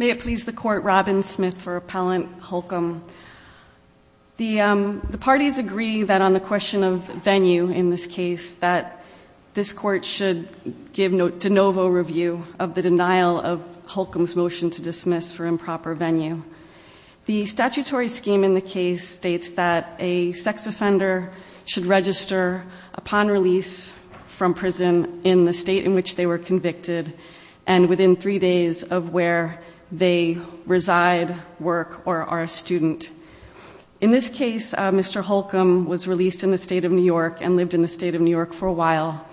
May it please the Court, Robin Smith for Appellant Holcomb. The parties agree that on the question of venue in this case that this Court should give de novo review of the denial of Holcomb's motion to dismiss for improper venue. The statutory scheme in the case states that a sex offender should register upon release from prison in the state in which they were convicted and within three days of where they reside, work or are a student. In this case, Mr. Holcomb was released in the state of New York and lived in the state of New York for a while.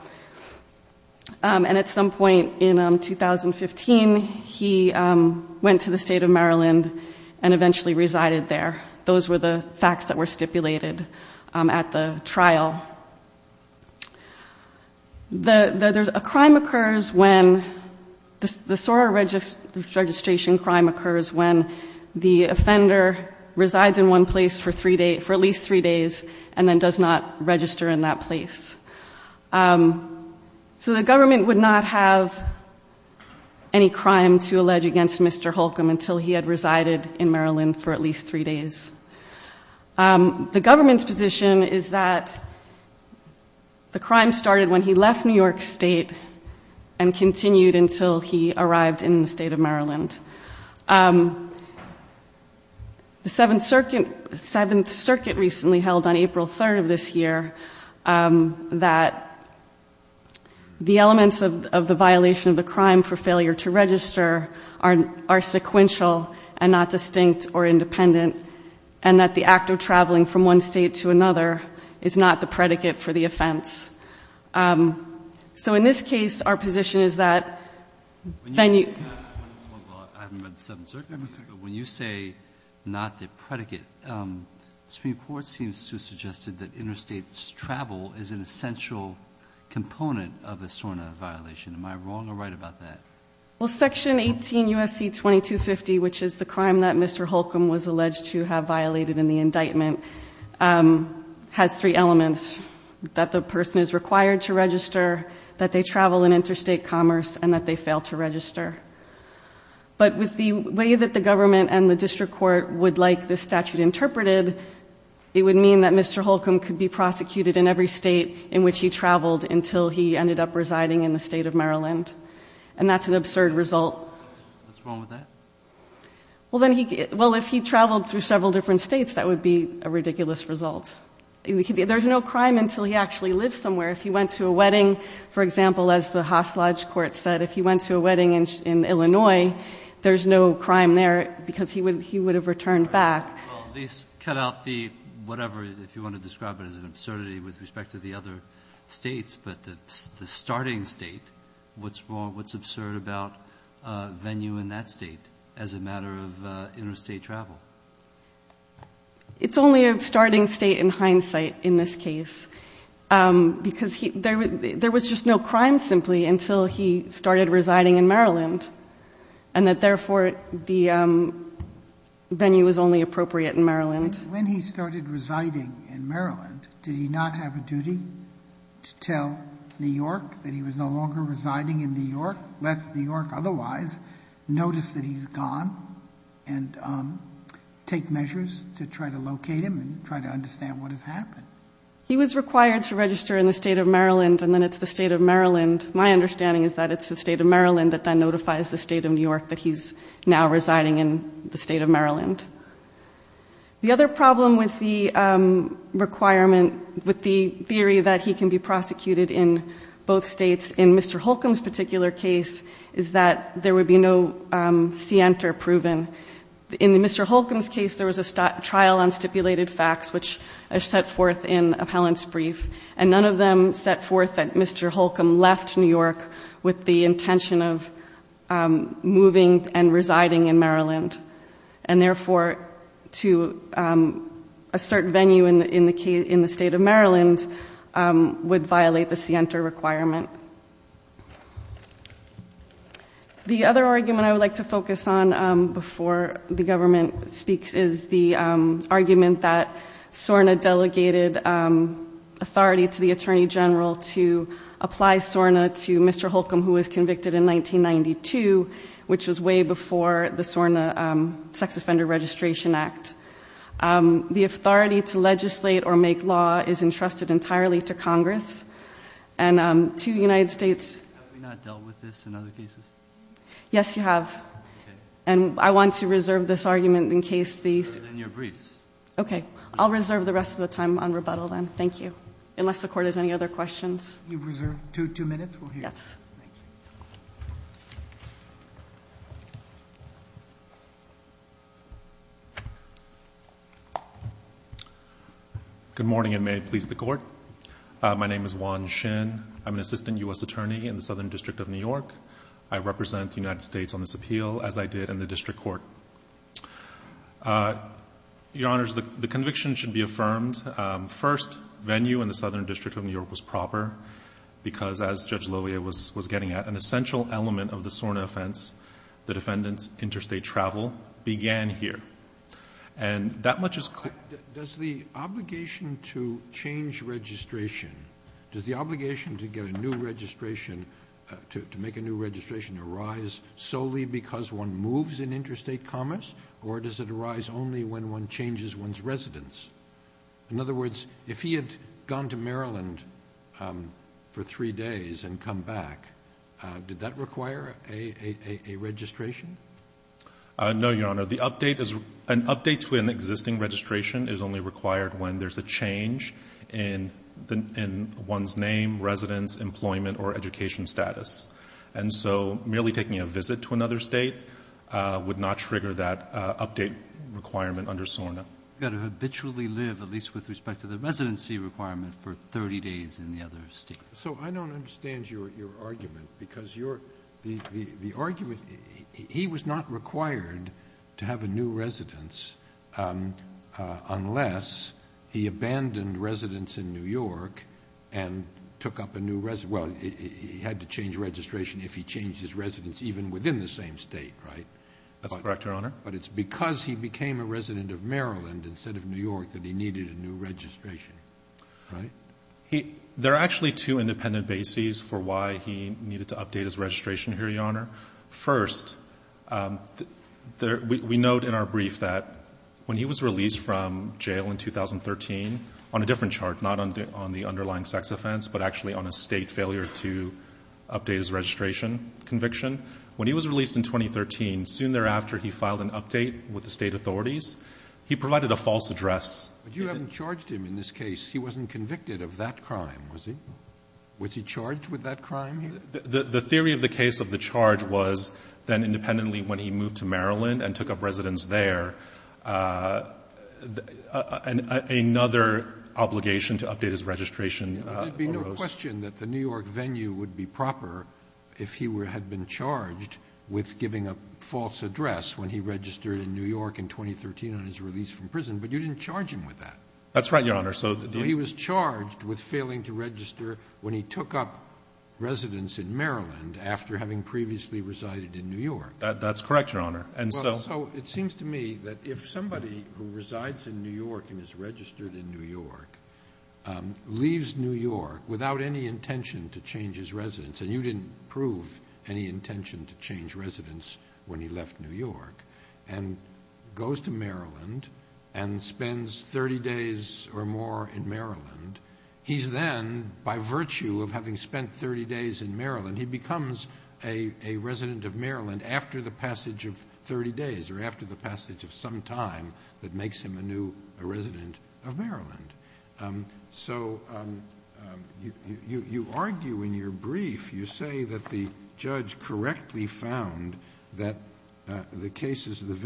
And at some point in 2015, he went to the state of Maryland and eventually resided there. Those were the facts that were stipulated at the trial. The crime occurs when the SOAR registration crime occurs when the offender resides in one place for at least three days and then does not register in that place. So the government would not have any crime to allege against Mr. Holcomb until he had resided in Maryland for at least three days. The government's position is that the crime started when he left New York State and continued until he arrived in the state of Maryland. The Seventh Circuit recently held on April 3rd of this year that the elements of the violation of the crime for failure to register are sequential and not distinct or independent, and that the act of traveling from one state to another is not the predicate for the offense. So in this case, our position is that when you say not the predicate, the Supreme Court seems to have suggested that interstate travel is an essential component of a SORNA violation. Am I wrong or right about that? Well, Section 18 U.S.C. 2250, which is the crime that Mr. Holcomb was alleged to have violated in the indictment, has three elements, that the person is required to register, that they travel in interstate commerce, and that they fail to register. But with the way that the government and the district court would like this statute interpreted, it would mean that Mr. Holcomb could be prosecuted in every state in which he traveled until he ended up residing in the state of Maryland. And that's an absurd result. What's wrong with that? Well, if he traveled through several different states, that would be a ridiculous result. There's no crime until he actually lives somewhere. If he went to a wedding, for example, as the Hoss Lodge court said, if he went to a wedding in Illinois, there's no crime there because he would have returned back. Well, these cut out the whatever, if you want to describe it, as an absurdity with respect to the other states. But the starting state, what's wrong, what's absurd about a venue in that state as a matter of interstate travel? It's only a starting state in hindsight in this case because there was just no crime simply until he started residing in Maryland and that, therefore, the venue was only appropriate in Maryland. When he started residing in Maryland, did he not have a duty to tell New York that he was no longer residing in New York, lest New York otherwise notice that he's gone and take measures to try to locate him and try to understand what has happened? He was required to register in the state of Maryland and then it's the state of Maryland. My understanding is that it's the state of Maryland that then notifies the state of New York that he's now residing in the state of Maryland. The other problem with the requirement, with the theory that he can be prosecuted in both states, in Mr. Holcomb's particular case, is that there would be no scienter proven. In Mr. Holcomb's case, there was a trial on stipulated facts which are set forth in appellant's brief and none of them set forth that Mr. Holcomb left New York with the intention of moving and residing in Maryland. And therefore, to assert venue in the state of Maryland would violate the scienter requirement. The other argument I would like to focus on before the government speaks is the argument that SORNA delegated authority to the Attorney General to apply SORNA to Mr. Holcomb, who was convicted in 1992, which was way before the SORNA Sex Offender Registration Act. The authority to legislate or make law is entrusted entirely to Congress and to the United States. Have we not dealt with this in other cases? Yes, you have. Okay. And I want to reserve this argument in case the... In your briefs. Okay. I'll reserve the rest of the time on rebuttal then. Thank you. Unless the Court has any other questions. You've reserved two minutes. Yes. Thank you. Good morning, and may it please the Court. My name is Juan Shin. I'm an assistant U.S. attorney in the Southern District of New York. I represent the United States on this appeal, as I did in the district court. Your Honors, the conviction should be affirmed. First, venue in the Southern District of New York was proper because, as Judge Lovia was getting at, an essential element of the SORNA offense, the defendant's interstate travel, began here. And that much is clear. Does the obligation to change registration, does the obligation to get a new registration, to make a new registration arise solely because one moves in interstate commerce, or does it arise only when one changes one's residence? In other words, if he had gone to Maryland for three days and come back, did that require a registration? No, Your Honor. An update to an existing registration is only required when there's a change in one's name, residence, employment, or education status. And so merely taking a visit to another state would not trigger that update requirement under SORNA. You've got to habitually live, at least with respect to the residency requirement, for 30 days in the other state. So I don't understand your argument, because the argument, he was not required to have a new residence unless he abandoned residence in New York and took up a new residence. Well, he had to change registration if he changed his residence even within the same state, right? That's correct, Your Honor. But it's because he became a resident of Maryland instead of New York that he needed a new registration, right? There are actually two independent bases for why he needed to update his registration here, Your Honor. First, we note in our brief that when he was released from jail in 2013, on a different chart, not on the underlying sex offense, but actually on a State failure to update his registration conviction, when he was released in 2013, soon thereafter he filed an update with the State authorities. He provided a false address. But you haven't charged him in this case. He wasn't convicted of that crime, was he? Was he charged with that crime? The theory of the case of the charge was then independently when he moved to Maryland and took up residence there, another obligation to update his registration arose. There would be no question that the New York venue would be proper if he had been charged with giving a false address when he registered in New York in 2013 on his release from prison. But you didn't charge him with that. That's right, Your Honor. He was charged with failing to register when he took up residence in Maryland after having previously resided in New York. That's correct, Your Honor. So it seems to me that if somebody who resides in New York and is registered in New York leaves New York without any intention to change his residence, and you didn't prove any intention to change residence when he left New York, and goes to Maryland and spends 30 days or more in Maryland, he's then, by virtue of having spent 30 days in Maryland, he becomes a resident of Maryland after the passage of 30 days or after the passage of some time that makes him a new resident of Maryland. So you argue in your brief, you say that the judge correctly found that the case of the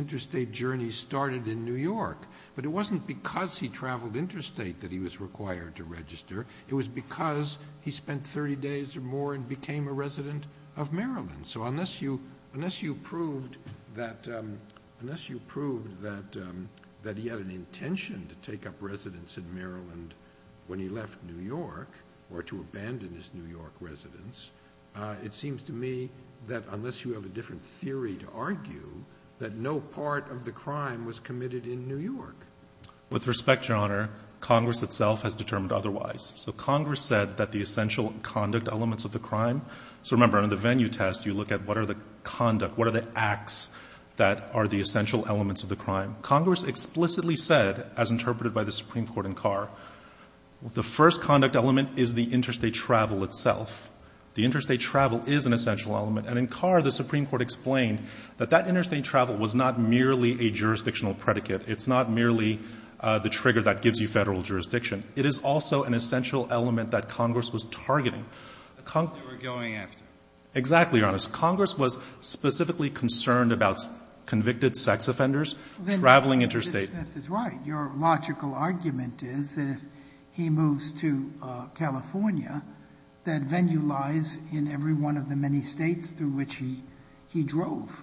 interstate journey started in New York. But it wasn't because he traveled interstate that he was required to register. It was because he spent 30 days or more and became a resident of Maryland. So unless you proved that he had an intention to take up residence in Maryland when he left New York or to abandon his New York residence, it seems to me that unless you have a different theory to argue that no part of the crime was committed in New York. With respect, Your Honor, Congress itself has determined otherwise. So Congress said that the essential conduct elements of the crime — so remember, under the venue test, you look at what are the conduct, what are the acts that are the essential elements of the crime. Congress explicitly said, as interpreted by the Supreme Court in Carr, the first conduct element is the interstate travel itself. The interstate travel is an essential element. And in Carr, the Supreme Court explained that that interstate travel was not merely a jurisdictional predicate. It's not merely the trigger that gives you Federal jurisdiction. It is also an essential element that Congress was targeting. The Congress — They were going after. Exactly, Your Honor. Congress was specifically concerned about convicted sex offenders traveling interstate. Your logical argument is that if he moves to California, that venue lies in every one of the many States through which he drove.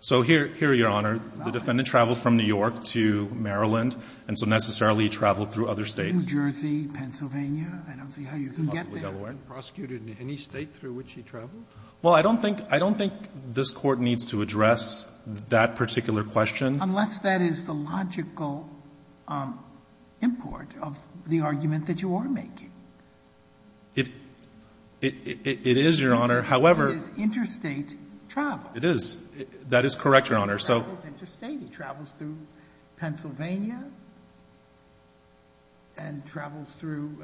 So here, Your Honor, the defendant traveled from New York to Maryland, and so necessarily he traveled through other States. New Jersey, Pennsylvania. I don't see how you can get there. Possibly Delaware. Prosecuted in any State through which he traveled? Well, I don't think this Court needs to address that particular question. Unless that is the logical import of the argument that you are making. It is, Your Honor. However — It is interstate travel. It is. That is correct, Your Honor. He travels interstate. He travels through Pennsylvania and travels through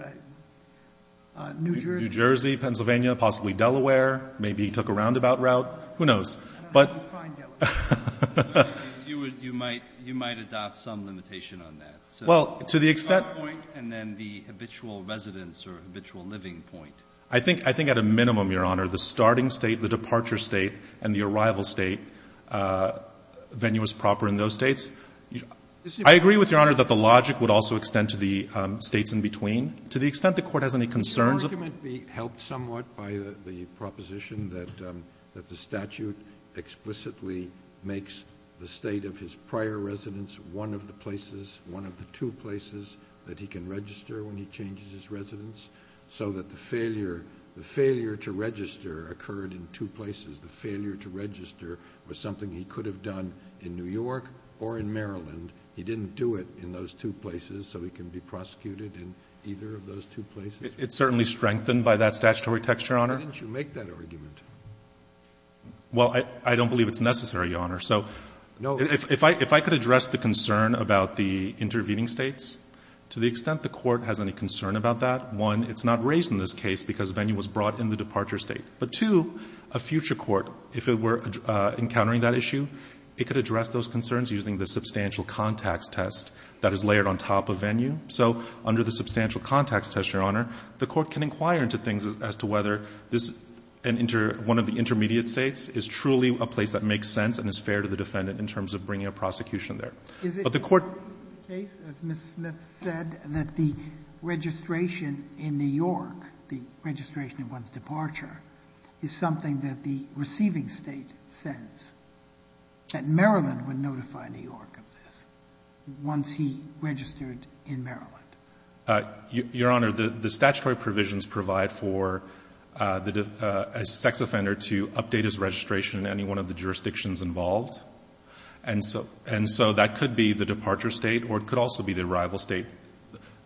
New Jersey. New Jersey, Pennsylvania, possibly Delaware. Maybe he took a roundabout route. Who knows? I don't know how you find Delaware. You might adopt some limitation on that. Well, to the extent — The point and then the habitual residence or habitual living point. I think at a minimum, Your Honor, the starting State, the departure State, and the arrival State venue is proper in those States. I agree with Your Honor that the logic would also extend to the States in between. To the extent the Court has any concerns — Can the argument be helped somewhat by the proposition that the statute explicitly makes the State of his prior residence one of the places, one of the two places, that he can register when he changes his residence, so that the failure to register occurred in two places? The failure to register was something he could have done in New York or in Maryland. He didn't do it in those two places, so he can be prosecuted in either of those two It's certainly strengthened by that statutory texture, Your Honor. Why didn't you make that argument? Well, I don't believe it's necessary, Your Honor. So if I could address the concern about the intervening States, to the extent the Court has any concern about that, one, it's not raised in this case because venue was brought in the departure State. But, two, a future court, if it were encountering that issue, it could address those concerns using the substantial context test that is layered on top of venue. So under the substantial context test, Your Honor, the Court can inquire into things as to whether this one of the intermediate States is truly a place that makes sense and is fair to the defendant in terms of bringing a prosecution there. But the Court Is it the case, as Ms. Smith said, that the registration in New York, the registration of one's departure, is something that the receiving State sends, that Maryland would notify New York of this once he registered in Maryland? Your Honor, the statutory provisions provide for a sex offender to update his registration in any one of the jurisdictions involved. And so that could be the departure State or it could also be the arrival State.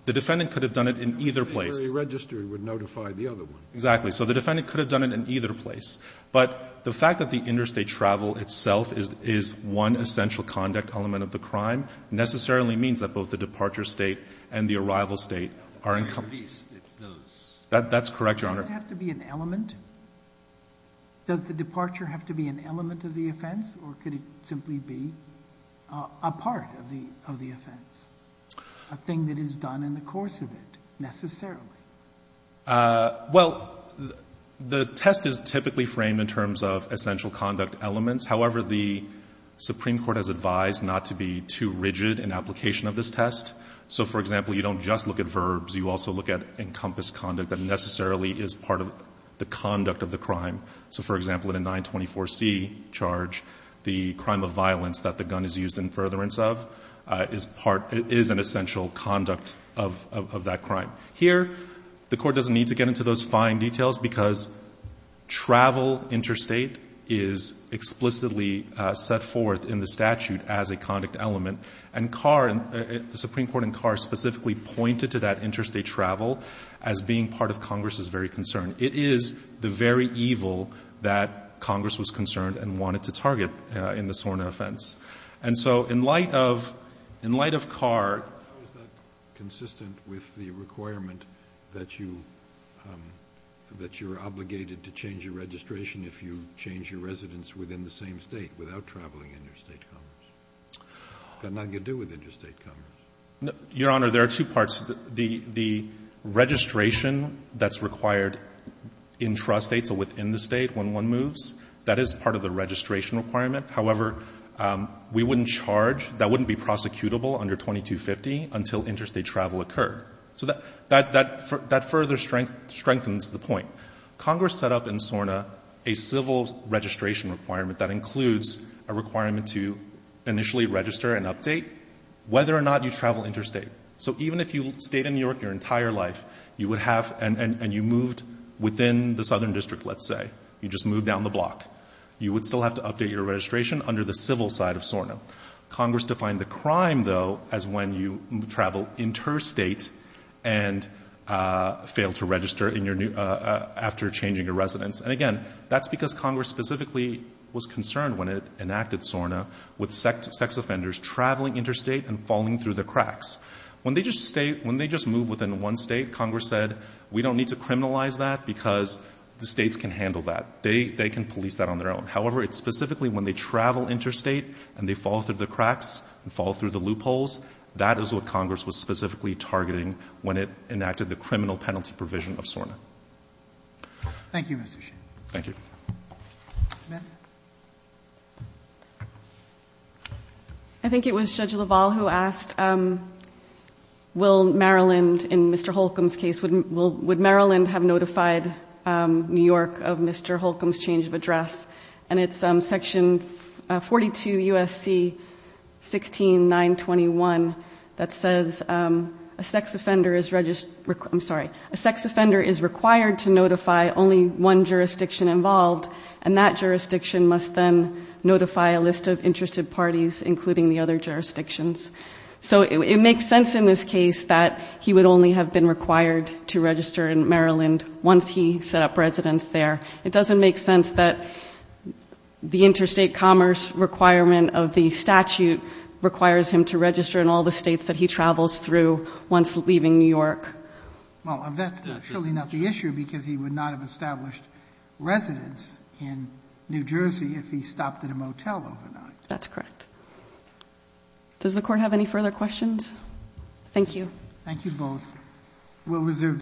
The defendant could have done it in either place. If he registered, he would notify the other one. Exactly. So the defendant could have done it in either place. But the fact that the interstate travel itself is one essential conduct element of the crime necessarily means that both the departure State and the arrival State are incomplete. It's those. That's correct, Your Honor. Does it have to be an element? Does the departure have to be an element of the offense or could it simply be a part of the offense, a thing that is done in the course of it necessarily? Well, the test is typically framed in terms of essential conduct elements. However, the Supreme Court has advised not to be too rigid in application of this test. So, for example, you don't just look at verbs. You also look at encompassed conduct that necessarily is part of the conduct of the crime. So, for example, in a 924C charge, the crime of violence that the gun is used in furtherance of is an essential conduct of that crime. Here, the Court doesn't need to get into those fine details because travel interstate is explicitly set forth in the statute as a conduct element. And Carr, the Supreme Court and Carr specifically pointed to that interstate travel as being part of Congress's very concern. It is the very evil that Congress was concerned and wanted to target in the SORNA offense. And so in light of Carr ---- How is that consistent with the requirement that you're obligated to change your registration if you change your residence within the same State without traveling interstate commerce? It's got nothing to do with interstate commerce. Your Honor, there are two parts. The registration that's required intrastate, so within the State when one moves, that is part of the registration requirement. However, we wouldn't charge, that wouldn't be prosecutable under 2250 until interstate travel occurred. So that further strengthens the point. Congress set up in SORNA a civil registration requirement that includes a requirement to initially register and update whether or not you travel interstate. So even if you stayed in New York your entire life, you would have and you moved within the Southern District, let's say, you just moved down the block, you would still have to update your registration under the civil side of SORNA. Congress defined the crime, though, as when you travel interstate and fail to register after changing your residence. And again, that's because Congress specifically was concerned when it enacted SORNA with sex offenders traveling interstate and falling through the cracks. When they just stayed, when they just moved within one State, Congress said, we don't need to criminalize that because the States can handle that. They can police that on their own. However, it's specifically when they travel interstate and they fall through the cracks and fall through the loopholes, that is what Congress was specifically targeting when it enacted the criminal penalty provision of SORNA. Thank you, Mr. Sheehan. Thank you. Ms. I think it was Judge LaValle who asked will Maryland, in Mr. Holcomb's case, would Maryland have notified New York of Mr. Holcomb's change of address. And it's section 42 U.S.C. 16921 that says a sex offender is, I'm sorry, a sex offender is required to notify only one jurisdiction involved, and that jurisdiction must then notify a list of interested parties, including the other jurisdictions. So it makes sense in this case that he would only have been required to register in Maryland once he set up residence there. It doesn't make sense that the interstate commerce requirement of the statute requires him to register in all the States that he travels through once leaving New York. Well, that's surely not the issue because he would not have established residence in New Jersey if he stopped at a motel overnight. That's correct. Does the Court have any further questions? Thank you. Thank you both.